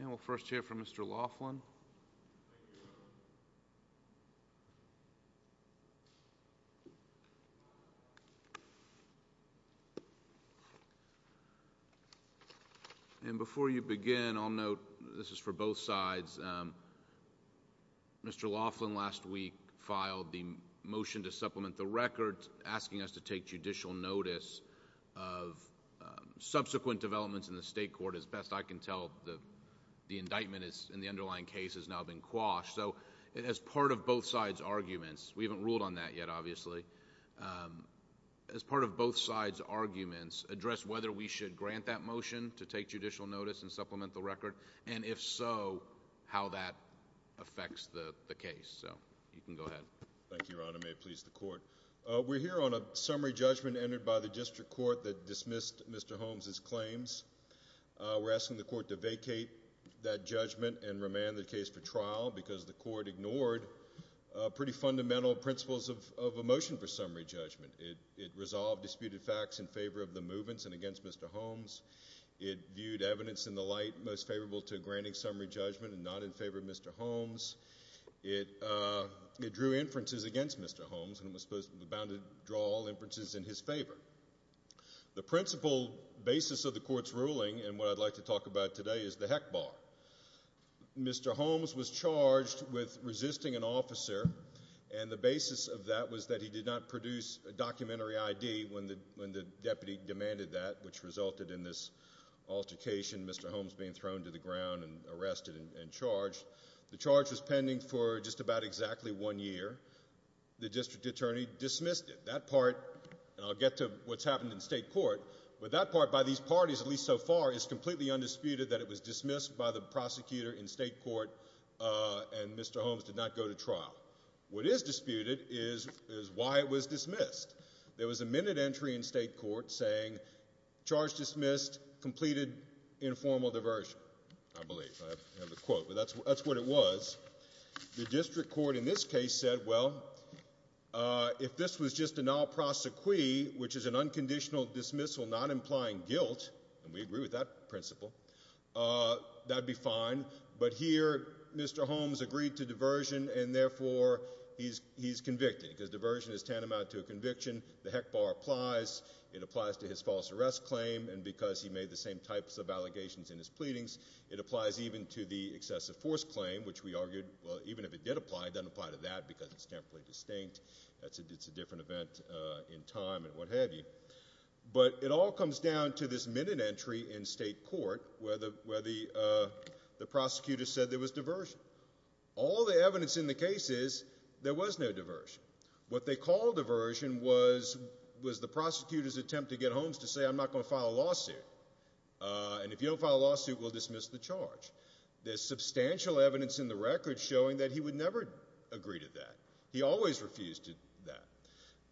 And we'll first hear from Mr. Laughlin. And before you begin, I'll note, this is for both sides, Mr. Laughlin last week filed the motion to supplement the record asking us to take judicial notice of subsequent developments in the state court. As best I can tell, the indictment in the underlying case has now been quashed. So as part of both sides' arguments, we haven't ruled on that yet, obviously. As part of both sides' arguments, address whether we should grant that motion to take judicial notice and supplement the record, and if so, how that affects the case. So you can go ahead. Thank you, Your Honor. May it please the court. We're here on a summary judgment entered by the district court that dismissed Mr. Holmes' claims. We're asking the court to vacate that judgment and remand the case for trial because the court ignored pretty fundamental principles of a motion for summary judgment. It resolved disputed facts in favor of the movements and against Mr. Holmes. It viewed evidence in the light most favorable to granting summary judgment and not in favor of Mr. Holmes. It drew inferences against Mr. Holmes and was in his favor. The principal basis of the court's ruling and what I'd like to talk about today is the heck bar. Mr. Holmes was charged with resisting an officer, and the basis of that was that he did not produce a documentary ID when the deputy demanded that, which resulted in this altercation, Mr. Holmes being thrown to the ground and arrested and charged. The charge was pending for just about exactly one year. The district attorney dismissed it. That part, and I'll get to what's happened in state court, but that part, by these parties at least so far, is completely undisputed that it was dismissed by the prosecutor in state court and Mr. Holmes did not go to trial. What is disputed is why it was dismissed. There was a minute entry in state court saying, charge dismissed, completed informal diversion, I believe. I have a quote, but that's what it was. The district court in this case said, well, if this was just a non-prosecution, which is an unconditional dismissal not implying guilt, and we agree with that principle, that would be fine, but here Mr. Holmes agreed to diversion and therefore he's convicted because diversion is tantamount to a conviction. The heck bar applies. It applies to his false arrest claim, and because he made the same types of allegations in his pleadings, it applies even to the excessive force claim, which we argued, well, even if it did apply, it doesn't apply to that because it's temperately distinct. It's a different event in time and what have you, but it all comes down to this minute entry in state court where the prosecutor said there was diversion. All the evidence in the case is there was no diversion. What they called diversion was the prosecutor's attempt to get Holmes to say, I'm not going to file a lawsuit, and if you don't file a lawsuit, I'm not going to file a lawsuit, and that's what Holmes did. He refused to do that.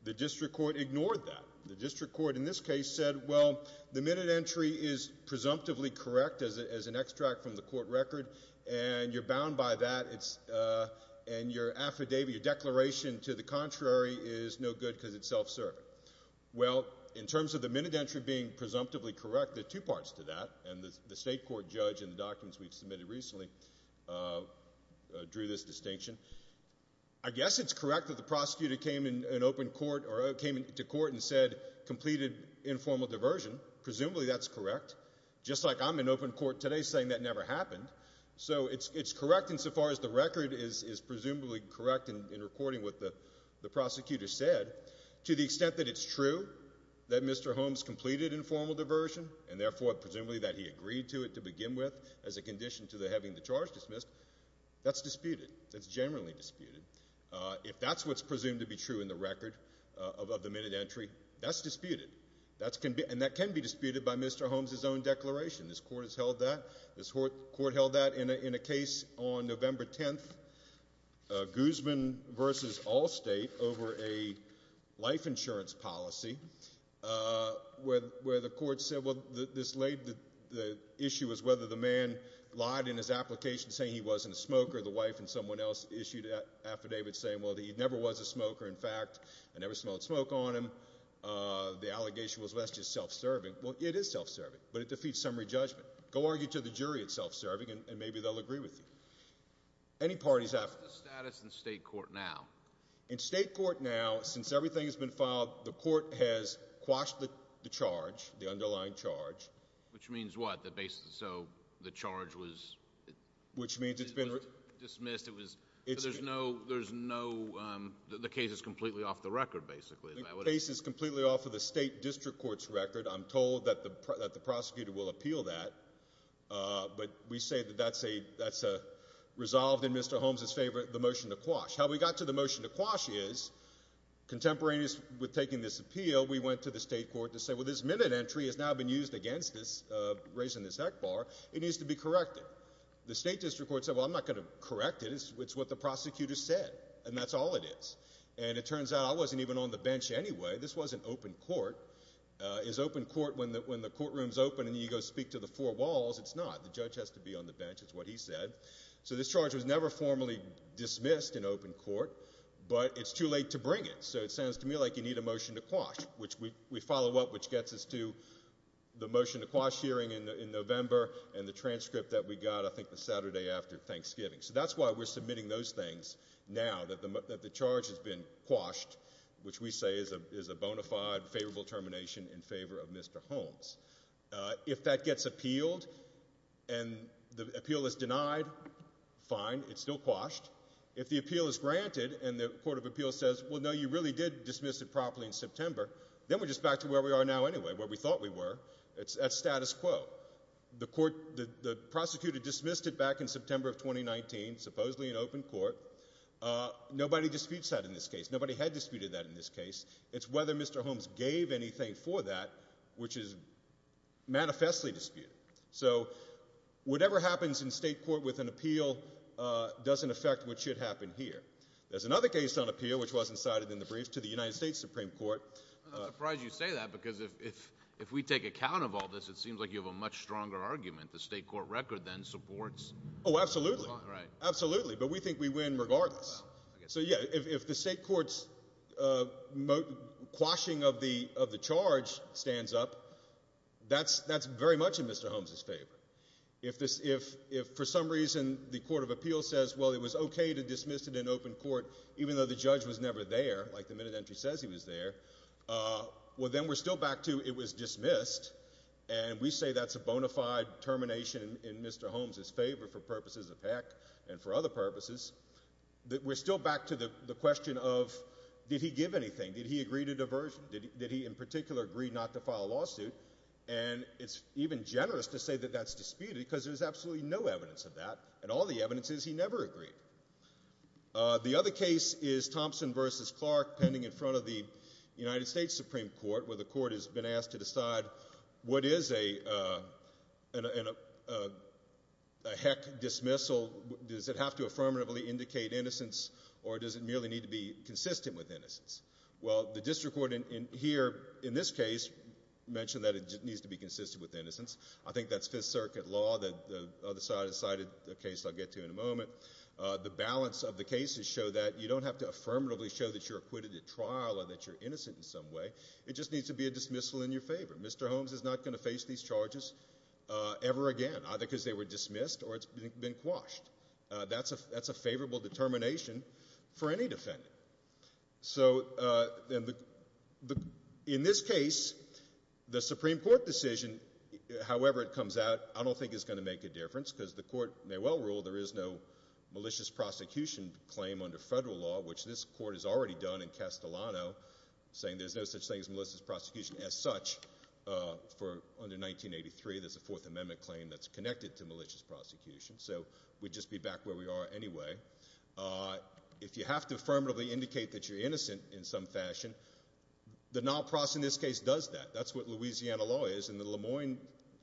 The district court ignored that. The district court in this case said, well, the minute entry is presumptively correct as an extract from the court record, and you're bound by that, and your affidavit, your declaration to the contrary is no good because it's self-serving. Well, in terms of the minute entry being presumptively correct, there are two parts to that, and the state court judge in the documents we've submitted recently drew this distinction. I guess it's correct that the prosecutor came to court and said, completed informal diversion. Presumably that's correct. Just like I'm in open court today saying that never happened, so it's correct insofar as the record is presumably correct in recording what the prosecutor said to the extent that it's true that Mr. Holmes completed informal diversion and therefore presumably that he agreed to it to begin with as a condition to having the charge dismissed. That's disputed. That's generally disputed. If that's what's presumed to be true in the record of the minute entry, that's disputed, and that can be disputed by Mr. Holmes' own declaration. This court has held that. This court held that in a case on November 10th, Guzman v. Allstate over a life insurance policy where the court said, well, this lady's life insurance policy, I believe the issue was whether the man lied in his application saying he wasn't a smoker. The wife and someone else issued an affidavit saying, well, he never was a smoker. In fact, I never smelled smoke on him. The allegation was, well, that's just self-serving. Well, it is self-serving, but it defeats summary judgment. Go argue to the jury it's self-serving, and maybe they'll agree with you. Any parties have to. What's the status in state court now? In state court now, since everything has been filed, the court has quashed the charge, the Which means what? So the charge was dismissed? There's no, the case is completely off the record, basically. The case is completely off of the state district court's record. I'm told that the prosecutor will appeal that, but we say that that's resolved in Mr. Holmes' favor, the motion to quash. How we got to the motion to quash is contemporaneous with taking this appeal, we went to the state district court and said, well, this motion entry has now been used against us, raising this heck bar. It needs to be corrected. The state district court said, well, I'm not going to correct it. It's what the prosecutor said, and that's all it is. And it turns out I wasn't even on the bench anyway. This wasn't open court. Is open court when the courtroom's open and you go speak to the four walls? It's not. The judge has to be on the bench, is what he said. So this charge was never formally dismissed in open court, but it's too late to bring it. So it sounds to me like you need a motion to quash, which we follow up, which gets us to the motion to quash hearing in November and the transcript that we got, I think, the Saturday after Thanksgiving. So that's why we're submitting those things now, that the charge has been quashed, which we say is a bona fide, favorable termination in favor of Mr. Holmes. If that gets appealed and the appeal is denied, fine, it's still quashed. If the appeal is granted and the court of appeals says, well, no, you really did dismiss it properly in September, then we're just back to where we are now anyway, where we thought we were. That's status quo. The prosecutor dismissed it back in September of 2019, supposedly in open court. Nobody disputes that in this case. Nobody had disputed that in this case. It's whether Mr. Holmes gave anything for that, which is manifestly disputed. So whatever happens in state court with an appeal doesn't affect what should the United States Supreme Court. I'm surprised you say that, because if we take account of all this, it seems like you have a much stronger argument. The state court record then supports. Oh, absolutely. Absolutely. But we think we win regardless. So yeah, if the state court's quashing of the charge stands up, that's very much in Mr. Holmes' favor. If for some reason the court of appeals says, well, it was okay to dismiss it in open court, even though the court of appeals entry says he was there, well, then we're still back to it was dismissed. And we say that's a bona fide termination in Mr. Holmes' favor for purposes of heck and for other purposes. We're still back to the question of, did he give anything? Did he agree to diversion? Did he in particular agree not to file a lawsuit? And it's even generous to say that that's disputed, because there's absolutely no evidence of that. And all the evidence is he never agreed. The other case is Thompson v. Clark pending in front of the United States Supreme Court, where the court has been asked to decide what is a heck dismissal. Does it have to affirmatively indicate innocence, or does it merely need to be consistent with innocence? Well, the district court here in this case mentioned that it needs to be consistent with innocence. I think that's Fifth Circuit law that the court will get to in a moment. The balance of the cases show that you don't have to affirmatively show that you're acquitted at trial or that you're innocent in some way. It just needs to be a dismissal in your favor. Mr. Holmes is not going to face these charges ever again, either because they were dismissed or it's been quashed. That's a favorable determination for any defendant. So in this case, the Supreme Court decision, however it comes out, I don't think it's going to make a difference, because the court may well rule there is no malicious prosecution claim under federal law, which this court has already done in Castellano, saying there's no such thing as malicious prosecution as such under 1983. There's a Fourth Amendment claim that's connected to malicious prosecution. So we'd just be back where we are anyway. If you have to affirmatively indicate that you're innocent in some fashion, the non-prosecution in this case does that. That's what Louisiana law is in the Lamoine,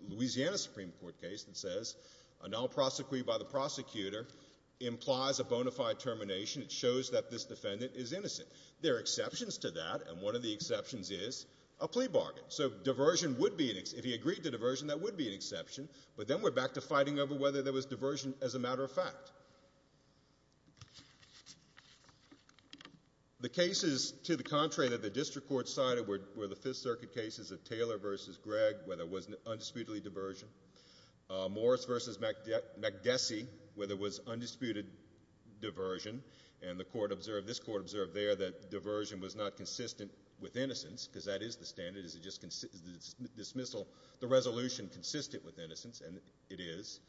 Louisiana Supreme Court case that says a non-prosecution by the prosecutor implies a bona fide termination. It shows that this defendant is innocent. There are exceptions to that, and one of the exceptions is a plea bargain. So if he agreed to diversion, that would be an exception, but then we're back to fighting over whether there was diversion as a matter of fact. The cases, to the contrary, that the district court cited were the Fifth Amendment case, where there was an undisputedly diversion. Morris v. MacDessy, where there was undisputed diversion, and this court observed there that diversion was not consistent with innocence, because that is the standard, the resolution consistent with innocence, and it is.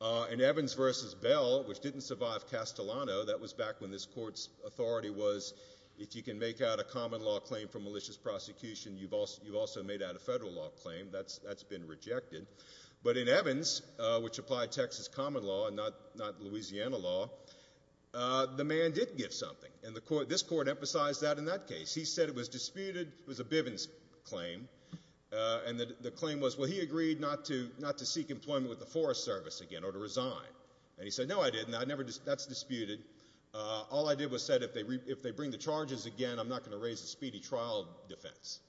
And Evans v. Bell, which didn't survive Castellano, that was back when this court's authority was if you can make out a common law claim for malicious prosecution, you've also made out a federal law claim, that's been rejected. But in Evans, which applied Texas common law and not Louisiana law, the man did give something, and this court emphasized that in that case. He said it was disputed, it was a Bivens claim, and the claim was, well, he agreed not to seek employment with the Forest Service again or to resign. And he said, no, I didn't, that's disputed. All I did was said if they bring the charges again, I'm not going to raise a speedy trial defense.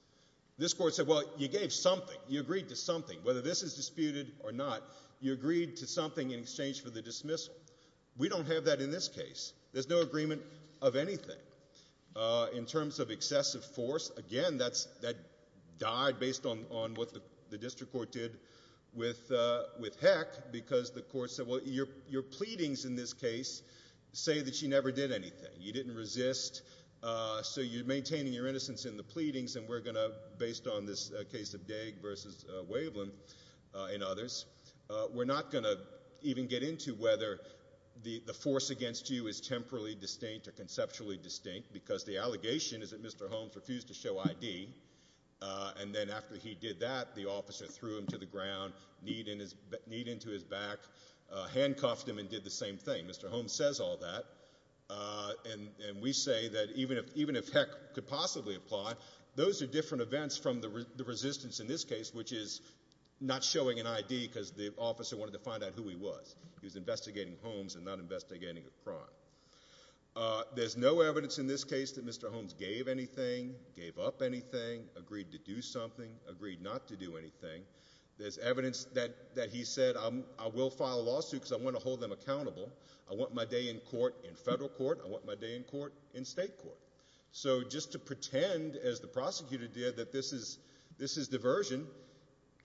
This court said, well, you gave something. You agreed to something. Whether this is disputed or not, you agreed to something in exchange for the dismissal. We don't have that in this case. There's no agreement of anything. In terms of excessive force, again, that died based on what the district court did with Heck, because the court said, well, your pleadings in this case say that you never did anything. You didn't resist, so you're maintaining your innocence in the pleadings, and we're going to, based on this case of Daig versus Waveland and others, we're not going to even get into whether the force against you is temporally distinct or conceptually distinct, because the allegation is that Mr. Holmes refused to show ID, and then after he did that, the officer threw him to the ground, kneed into his back, handcuffed him and did the same thing. Mr. Holmes says all that, and we say that even if Heck could possibly apply, those are different events from the resistance in this case, which is not showing an ID because the officer wanted to find out who he was. He was investigating Holmes and not investigating a crime. There's no evidence in this case that Mr. Holmes gave anything, gave up anything, agreed to do something, agreed not to do anything. There's evidence that he said, I will file a lawsuit because I want to hold them accountable. I want my day in court, in federal court. I want my day in court, in state court. So just to pretend, as the prosecutor did, that this is diversion,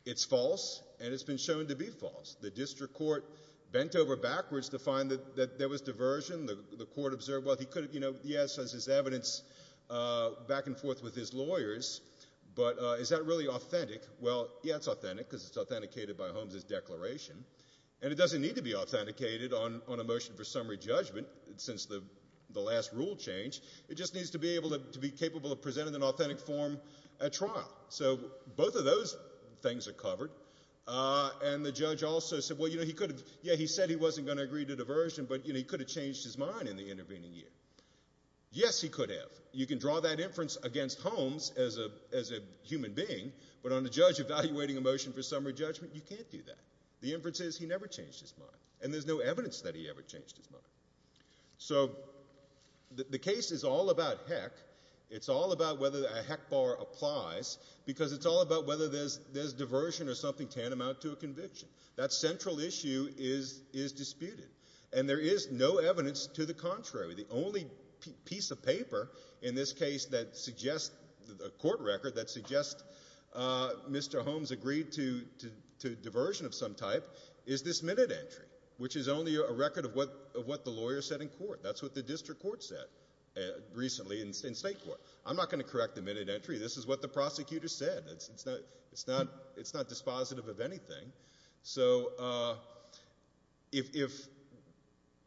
it's false, and it's been shown to be false. The district court bent over backwards to find that there was diversion. The court observed, well, he could have, you know, he has his evidence back and forth with his lawyers, but is that really authentic? Well, yeah, it's authentic because it's authenticated by Holmes' declaration, and it doesn't need to be authenticated on a motion for summary judgment since the last rule change. It just needs to be able to be capable of presenting in an authentic form at trial. So both of those things are covered, and the judge also said, well, you know, he could have, yeah, he said he wasn't going to agree to diversion, but, you know, he could have changed his mind in the intervening year. Yes, he could have. You can draw that inference against Holmes as a human being, but on the judge evaluating a motion for summary judgment, you can't do that. The inference is he never changed his mind, and there's no evidence that he ever changed his mind. So the case is all about heck. It's all about whether a heck bar applies because it's all about whether there's diversion or something tantamount to a conviction. That central issue is disputed, and there is no piece of paper in this case that suggests, a court record, that suggests Mr. Holmes agreed to diversion of some type is this minute entry, which is only a record of what the lawyer said in court. That's what the district court said recently in state court. I'm not going to correct the minute entry. This is what the prosecutor said. It's not dispositive of anything. So if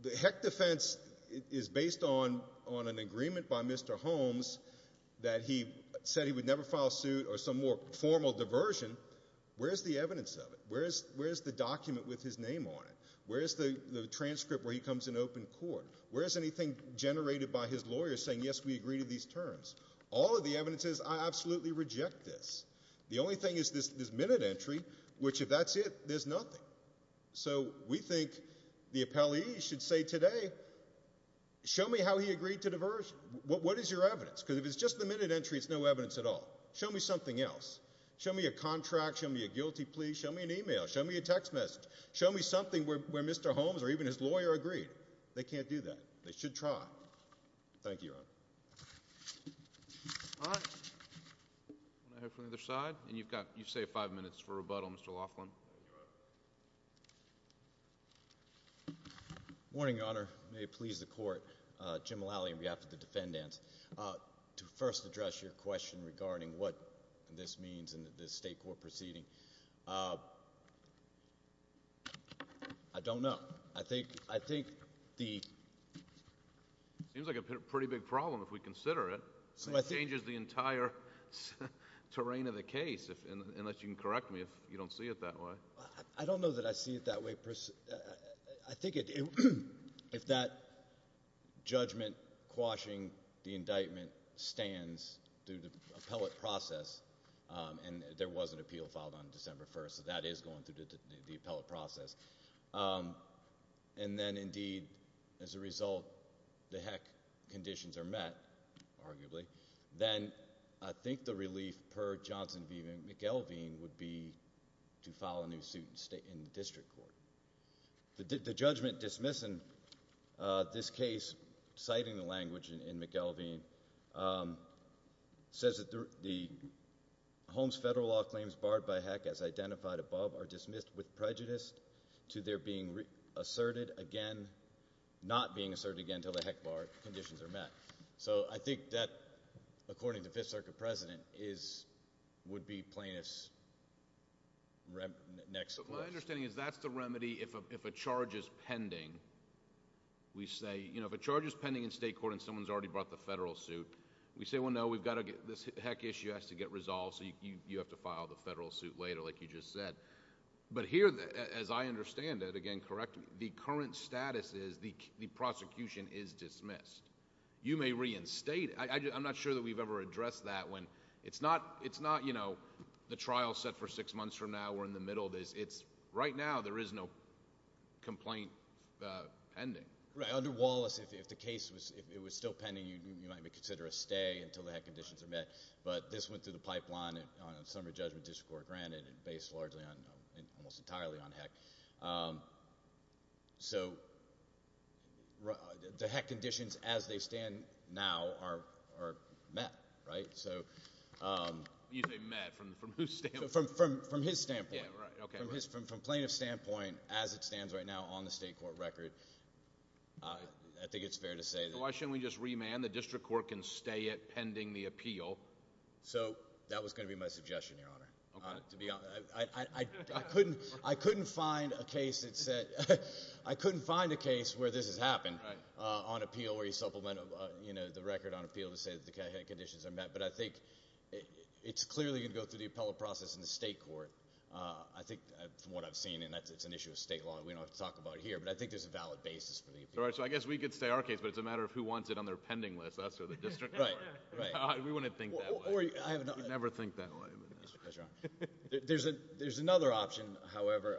the heck defense is based on an agreement by Mr. Holmes that he said he would never file suit or some more formal diversion, where's the evidence of it? Where's the document with his name on it? Where's the transcript where he comes in open court? Where's anything generated by his lawyer saying, yes, we agree to these terms? All of the evidence is, I absolutely reject this. The only thing is this minute entry, which if that's it, there's nothing. So we think the appellee should say today, show me how he agreed to diversion. What is your evidence? Because if it's just the minute entry, it's no evidence at all. Show me something else. Show me a contract. Show me a guilty plea. Show me an email. Show me a text message. Show me something where Mr. Holmes or even his lawyer agreed. They can't do that. They should try. Thank you, Your Honor. All right. I'll go from the other side. And you've got, you've saved five minutes for rebuttal, Mr. Laughlin. Morning, Your Honor. May it please the court. Jim Mullally in behalf of the defendants. To first address your question regarding what this means in this state court proceeding, I don't know. I think, I think the. Seems like a pretty big problem if we consider it. It changes the entire terrain of the case, unless you can correct me if you don't see it that way. I don't know that I see it that way. I think if that judgment quashing the indictment stands through the appellate process, and there was an appeal filed on December 1st, that is going through the appellate process. And then indeed, as a result, the heck conditions are met, arguably. Then I think the relief per Johnson v. McElveen would be to file a new suit in the district court. The judgment dismissing this case, citing the language in McElveen, says that the Holmes federal law claims barred by heck, as identified above, are dismissed with prejudice to their being asserted again, not being asserted again until the heck conditions are met. So I think that, according to the Fifth Circuit President, would be plaintiff's next clause. My understanding is that's the remedy if a charge is pending. If a charge is pending in state court and someone's already brought the federal suit, we say, well, no, this heck issue has to get resolved, so you have to file the federal suit later, like you just said. But here, as I understand it, again, correct me, the current status is the prosecution is dismissed. You may reinstate it. I'm not sure that we've ever addressed that. It's not the trial set for six months from now, we're in the middle of this. Right now, there is no complaint pending. Right. Under Wallace, if the case was still pending, you might consider a stay until the heck conditions are met. But this went through the pipeline on a summary judgment district court granted, based largely, almost entirely, on heck. So the heck conditions, as they stand now, are met, right? You say met. From whose standpoint? From his standpoint. From plaintiff's standpoint, as it stands right now on the state court record, I think it's fair to say. Why shouldn't we just remand? The district court can stay it pending the appeal. I couldn't find a case where this has happened on appeal where you supplement the record on appeal to say the heck conditions are met. But I think it's clearly going to go through the appellate process in the state court. I think from what I've seen, and it's an issue of state law, we don't have to talk about it here, but I think there's a valid basis for the appeal. So I guess we could stay our case, but it's a matter of who wants it on their pending list, us or the district court. We wouldn't think that way. You'd never think that way. There's another option, however.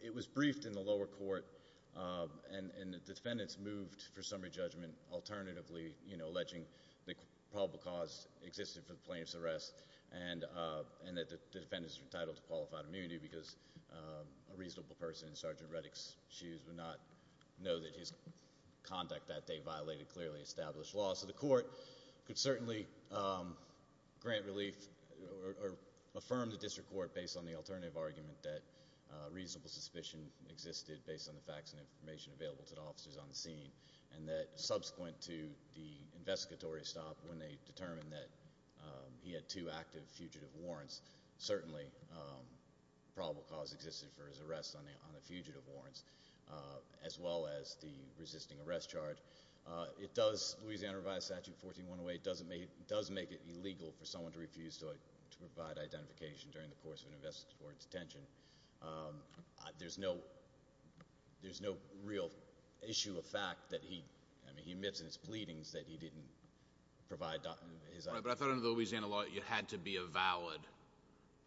It was briefed in the lower court, and the defendants moved for summary judgment alternatively, alleging the probable cause existed for the plaintiff's arrest and that the defendants were entitled to qualified immunity because a reasonable person in Sergeant Reddick's shoes would not know that his conduct that day violated clearly established law. Also, the court could certainly grant relief or affirm the district court based on the alternative argument that reasonable suspicion existed based on the facts and information available to the officers on the scene and that subsequent to the investigatory stop, when they determined that he had two active fugitive warrants, certainly probable cause existed for his arrest on the fugitive warrants as well as the resisting arrest charge. Louisiana revised Statute 14108 does make it illegal for someone to refuse to provide identification during the course of an investigatory detention. There's no real issue of fact that he emits in his pleadings that he didn't provide his identification. But I thought under the Louisiana law it had to be a valid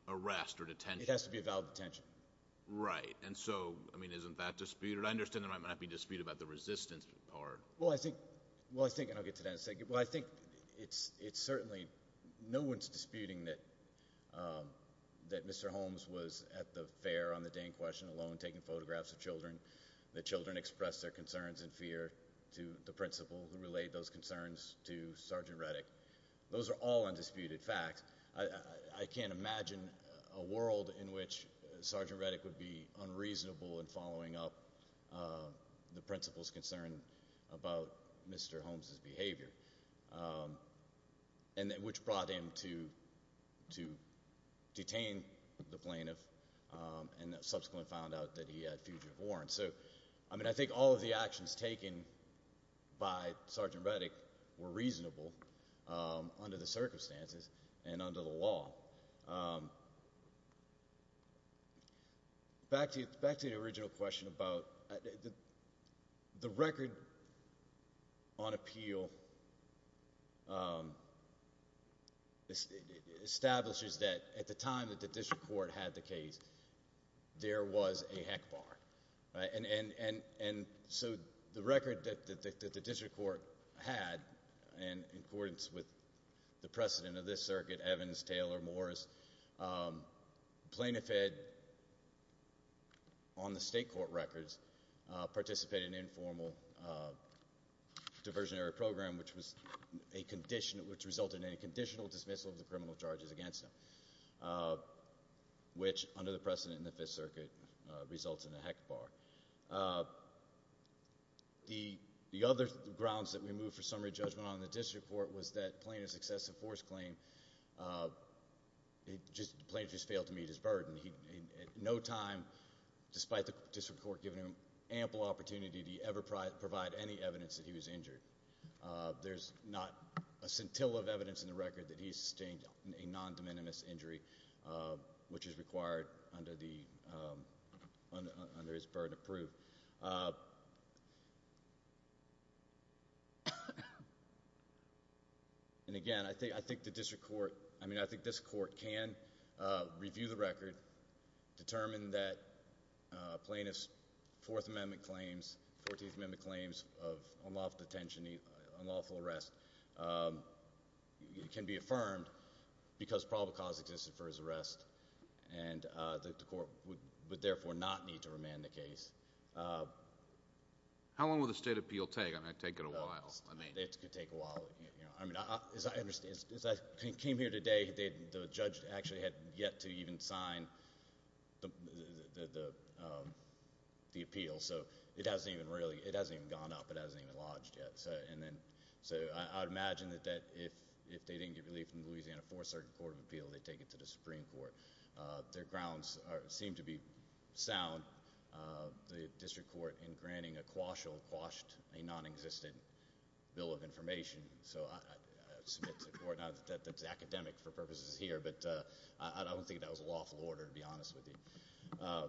arrest or detention. It has to be a valid detention. Right. And so, I mean, isn't that disputed? But I understand there might not be a dispute about the resistance part. Well, I think – and I'll get to that in a second. Well, I think it's certainly – no one's disputing that Mr. Holmes was at the fair on the Dane Question alone taking photographs of children, that children expressed their concerns and fear to the principal who relayed those concerns to Sergeant Reddick. Those are all undisputed facts. I can't imagine a world in which Sergeant Reddick would be unreasonable in following up the principal's concern about Mr. Holmes' behavior, which brought him to detain the plaintiff and subsequently found out that he had fugitive warrants. So, I mean, I think all of the actions taken by Sergeant Reddick were reasonable under the circumstances and under the law. Back to the original question about – the record on appeal establishes that at the time that the district court had the case, there was a heck bar, right? And so the record that the district court had in accordance with the precedent of this circuit – Evans, Taylor, Morris – the plaintiff had, on the state court records, participated in an informal diversionary program which was a condition – which resulted in a conditional dismissal of the criminal charges against him, which, under the precedent in the Fifth Circuit, results in a heck bar. The other grounds that we move for summary judgment on in the district court was that the plaintiff's excessive force claim – the plaintiff just failed to meet his burden. At no time, despite the district court giving him ample opportunity to ever provide any evidence that he was injured, there's not a scintilla of evidence in the record that he sustained a non-de minimis injury, which is required under his burden of proof. And, again, I think the district court – I mean, I think this court can review the record, determine that a plaintiff's Fourth Amendment claims – Fourteenth Amendment claims of unlawful detention, unlawful arrest can be affirmed because probable cause existed for his arrest, and the court would therefore not need to remand the case. How long will the state appeal take? I mean, it could take a while. It could take a while. As I came here today, the judge actually had yet to even sign the appeal, so it hasn't even gone up. It hasn't even lodged yet. So I would imagine that if they didn't get relief from Louisiana Fourth Circuit Court of Appeal, they'd take it to the Supreme Court. Their grounds seem to be sound. The district court, in granting a quashal, quashed a non-existent bill of information. So I submit to the court – not that it's academic for purposes here, but I don't think that was a lawful order, to be honest with you.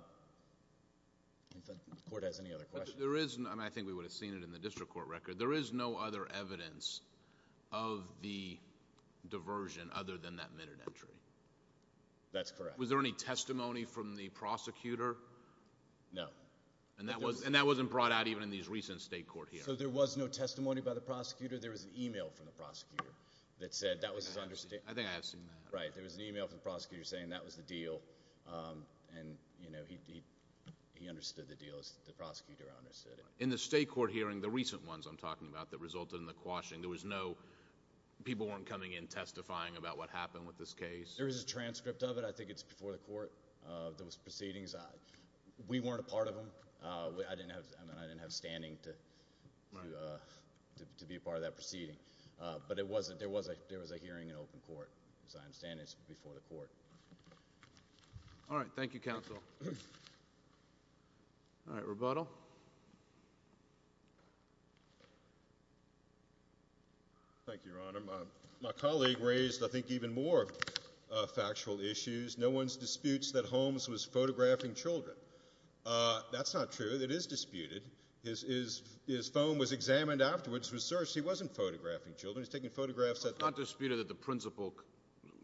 If the court has any other questions. There is – I mean, I think we would have seen it in the district court record. There is no other evidence of the diversion other than that minute entry. That's correct. Was there any testimony from the prosecutor? No. And that wasn't brought out even in these recent state court hearings? So there was no testimony by the prosecutor. There was an email from the prosecutor that said that was his – I think I have seen that. Right. There was an email from the prosecutor saying that was the deal, and he understood the deal as the prosecutor understood it. In the state court hearing, the recent ones I'm talking about that resulted in the quashing, there was no – people weren't coming in testifying about what happened with this case? There is a transcript of it. I think it's before the court, those proceedings. We weren't a part of them. I didn't have standing to be a part of that proceeding. But it wasn't – there was a hearing in open court. As I understand it, it's before the court. All right. Thank you, counsel. All right. Rebuttal. Thank you, Your Honor. My colleague raised, I think, even more factual issues. No one disputes that Holmes was photographing children. That's not true. It is disputed. His phone was examined afterwards, was searched. He wasn't photographing children. He was taking photographs at the – It's not disputed that the principal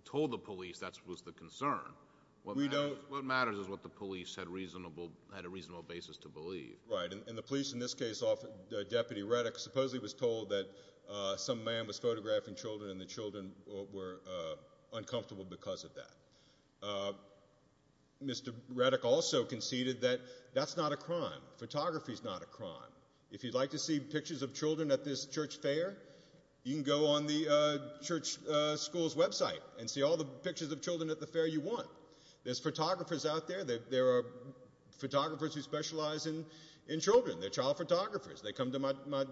told the police that was the concern. We don't – What matters is what the police had a reasonable basis to believe. Right. And the police, in this case, Deputy Reddick, supposedly was told that some man was photographing children and the children were uncomfortable because of that. Mr. Reddick also conceded that that's not a crime. Photography is not a crime. If you'd like to see pictures of children at this church fair, you can go on the church school's website and see all the pictures of children at the fair you want. There's photographers out there. There are photographers who specialize in children. They're child photographers. They come to my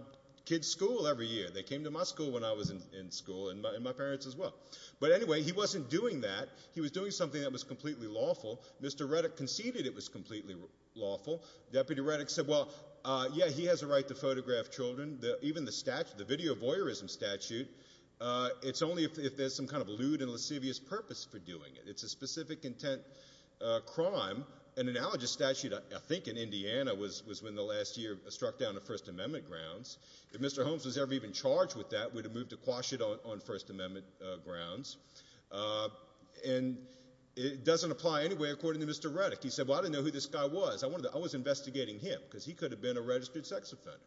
kids' school every year. They came to my school when I was in school and my parents as well. But anyway, he wasn't doing that. He was doing something that was completely lawful. Mr. Reddick conceded it was completely lawful. Deputy Reddick said, well, yeah, he has a right to photograph children. Even the statute, the video voyeurism statute, it's only if there's some kind of lewd and lascivious purpose for doing it. It's a specific intent crime. An analogous statute, I think in Indiana, was when the last year struck down the First Amendment grounds. If Mr. Holmes was ever even charged with that, we'd have moved to quash it on First Amendment grounds. And it doesn't apply anyway, according to Mr. Reddick. He said, well, I didn't know who this guy was. I was investigating him because he could have been a registered sex offender.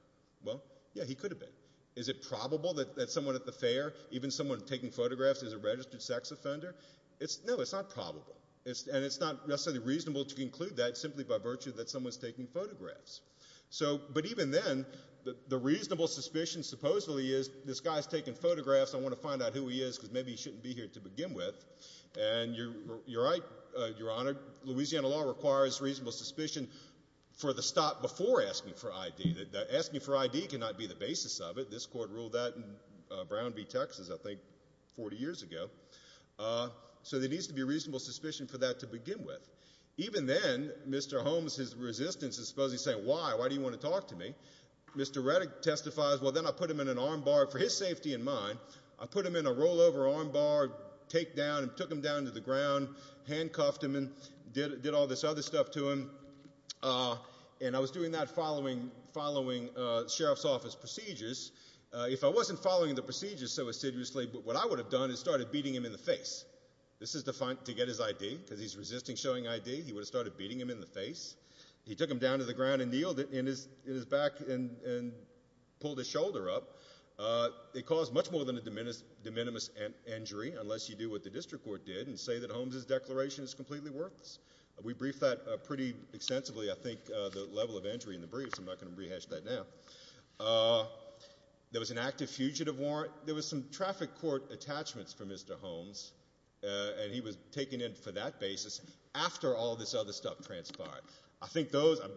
Well, yeah, he could have been. Is it probable that someone at the fair, even someone taking photographs, is a registered sex offender? No, it's not probable. And it's not necessarily reasonable to conclude that simply by virtue that someone's taking photographs. But even then, the reasonable suspicion supposedly is, this guy's taking photographs, I want to find out who he is because maybe he shouldn't be here to begin with. And you're right, Your Honor. Louisiana law requires reasonable suspicion for the stop before asking for ID. Asking for ID cannot be the basis of it. This court ruled that in Brown v. Texas, I think, 40 years ago. So there needs to be reasonable suspicion for that to begin with. Even then, Mr. Holmes, his resistance is supposedly saying, why, why do you want to talk to me? Mr. Reddick testifies, well, then I put him in an armbar for his safety and mine. I put him in a rollover armbar, take down and took him down to the ground, handcuffed him and did all this other stuff to him. And I was doing that following sheriff's office procedures. If I wasn't following the procedures so assiduously, what I would have done is started beating him in the face. This is to get his ID because he's resisting showing ID. He would have started beating him in the face. He took him down to the ground and kneeled in his back and pulled his shoulder up. It caused much more than a de minimis injury unless you do what the district court did and say that Holmes' declaration is completely worthless. We briefed that pretty extensively, I think, the level of injury in the briefs. I'm not going to rehash that now. There was an active fugitive warrant. There was some traffic court attachments for Mr. Holmes, and he was taken in for that basis after all this other stuff transpired. I think those, I'm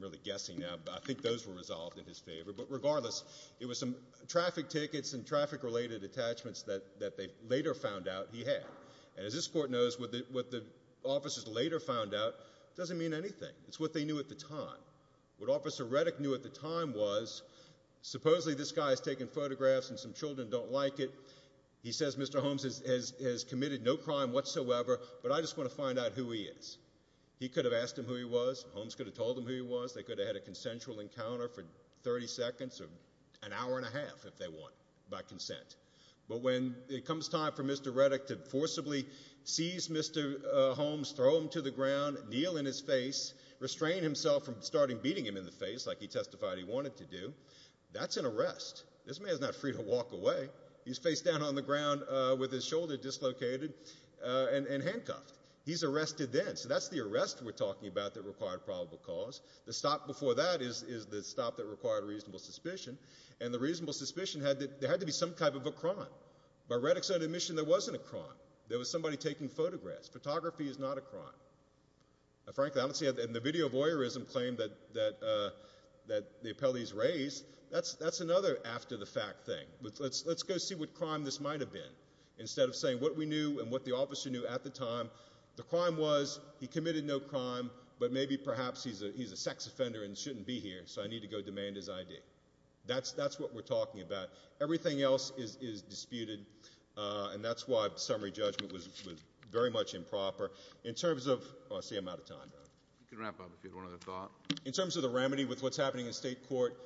really guessing now, but I think those were resolved in his favor. But regardless, it was some traffic tickets and traffic-related attachments that they later found out he had. And as this court knows, what the officers later found out doesn't mean anything. It's what they knew at the time. What Officer Reddick knew at the time was supposedly this guy is taking photographs and some children don't like it. He says Mr. Holmes has committed no crime whatsoever, but I just want to find out who he is. He could have asked him who he was. Holmes could have told him who he was. They could have had a consensual encounter for 30 seconds or an hour and a half if they want by consent. But when it comes time for Mr. Reddick to forcibly seize Mr. Holmes, throw him to the ground, kneel in his face, restrain himself from starting beating him in the face like he testified he wanted to do, that's an arrest. This man is not free to walk away. He's face down on the ground with his shoulder dislocated and handcuffed. He's arrested then. So that's the arrest we're talking about that required probable cause. The stop before that is the stop that required reasonable suspicion. And the reasonable suspicion had to be some type of a crime. By Reddick's own admission, there wasn't a crime. There was somebody taking photographs. Photography is not a crime. And the video voyeurism claim that the appellees raised, that's another after-the-fact thing. Let's go see what crime this might have been. Instead of saying what we knew and what the officer knew at the time, the crime was he committed no crime, but maybe perhaps he's a sex offender and shouldn't be here, so I need to go demand his ID. That's what we're talking about. Everything else is disputed, and that's why summary judgment was very much improper. In terms of the remedy with what's happening in state court,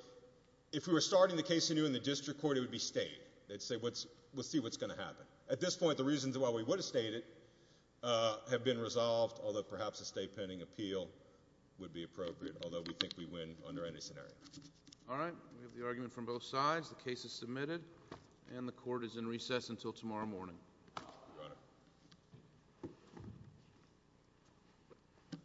if we were starting the case anew in the district court, it would be state. We'll see what's going to happen. At this point, the reasons why we would have stayed it have been resolved, although perhaps a state pending appeal would be appropriate, although we think we win under any scenario. All right. We have the argument from both sides. The case is submitted, and the court is in recess until tomorrow morning. Your Honor.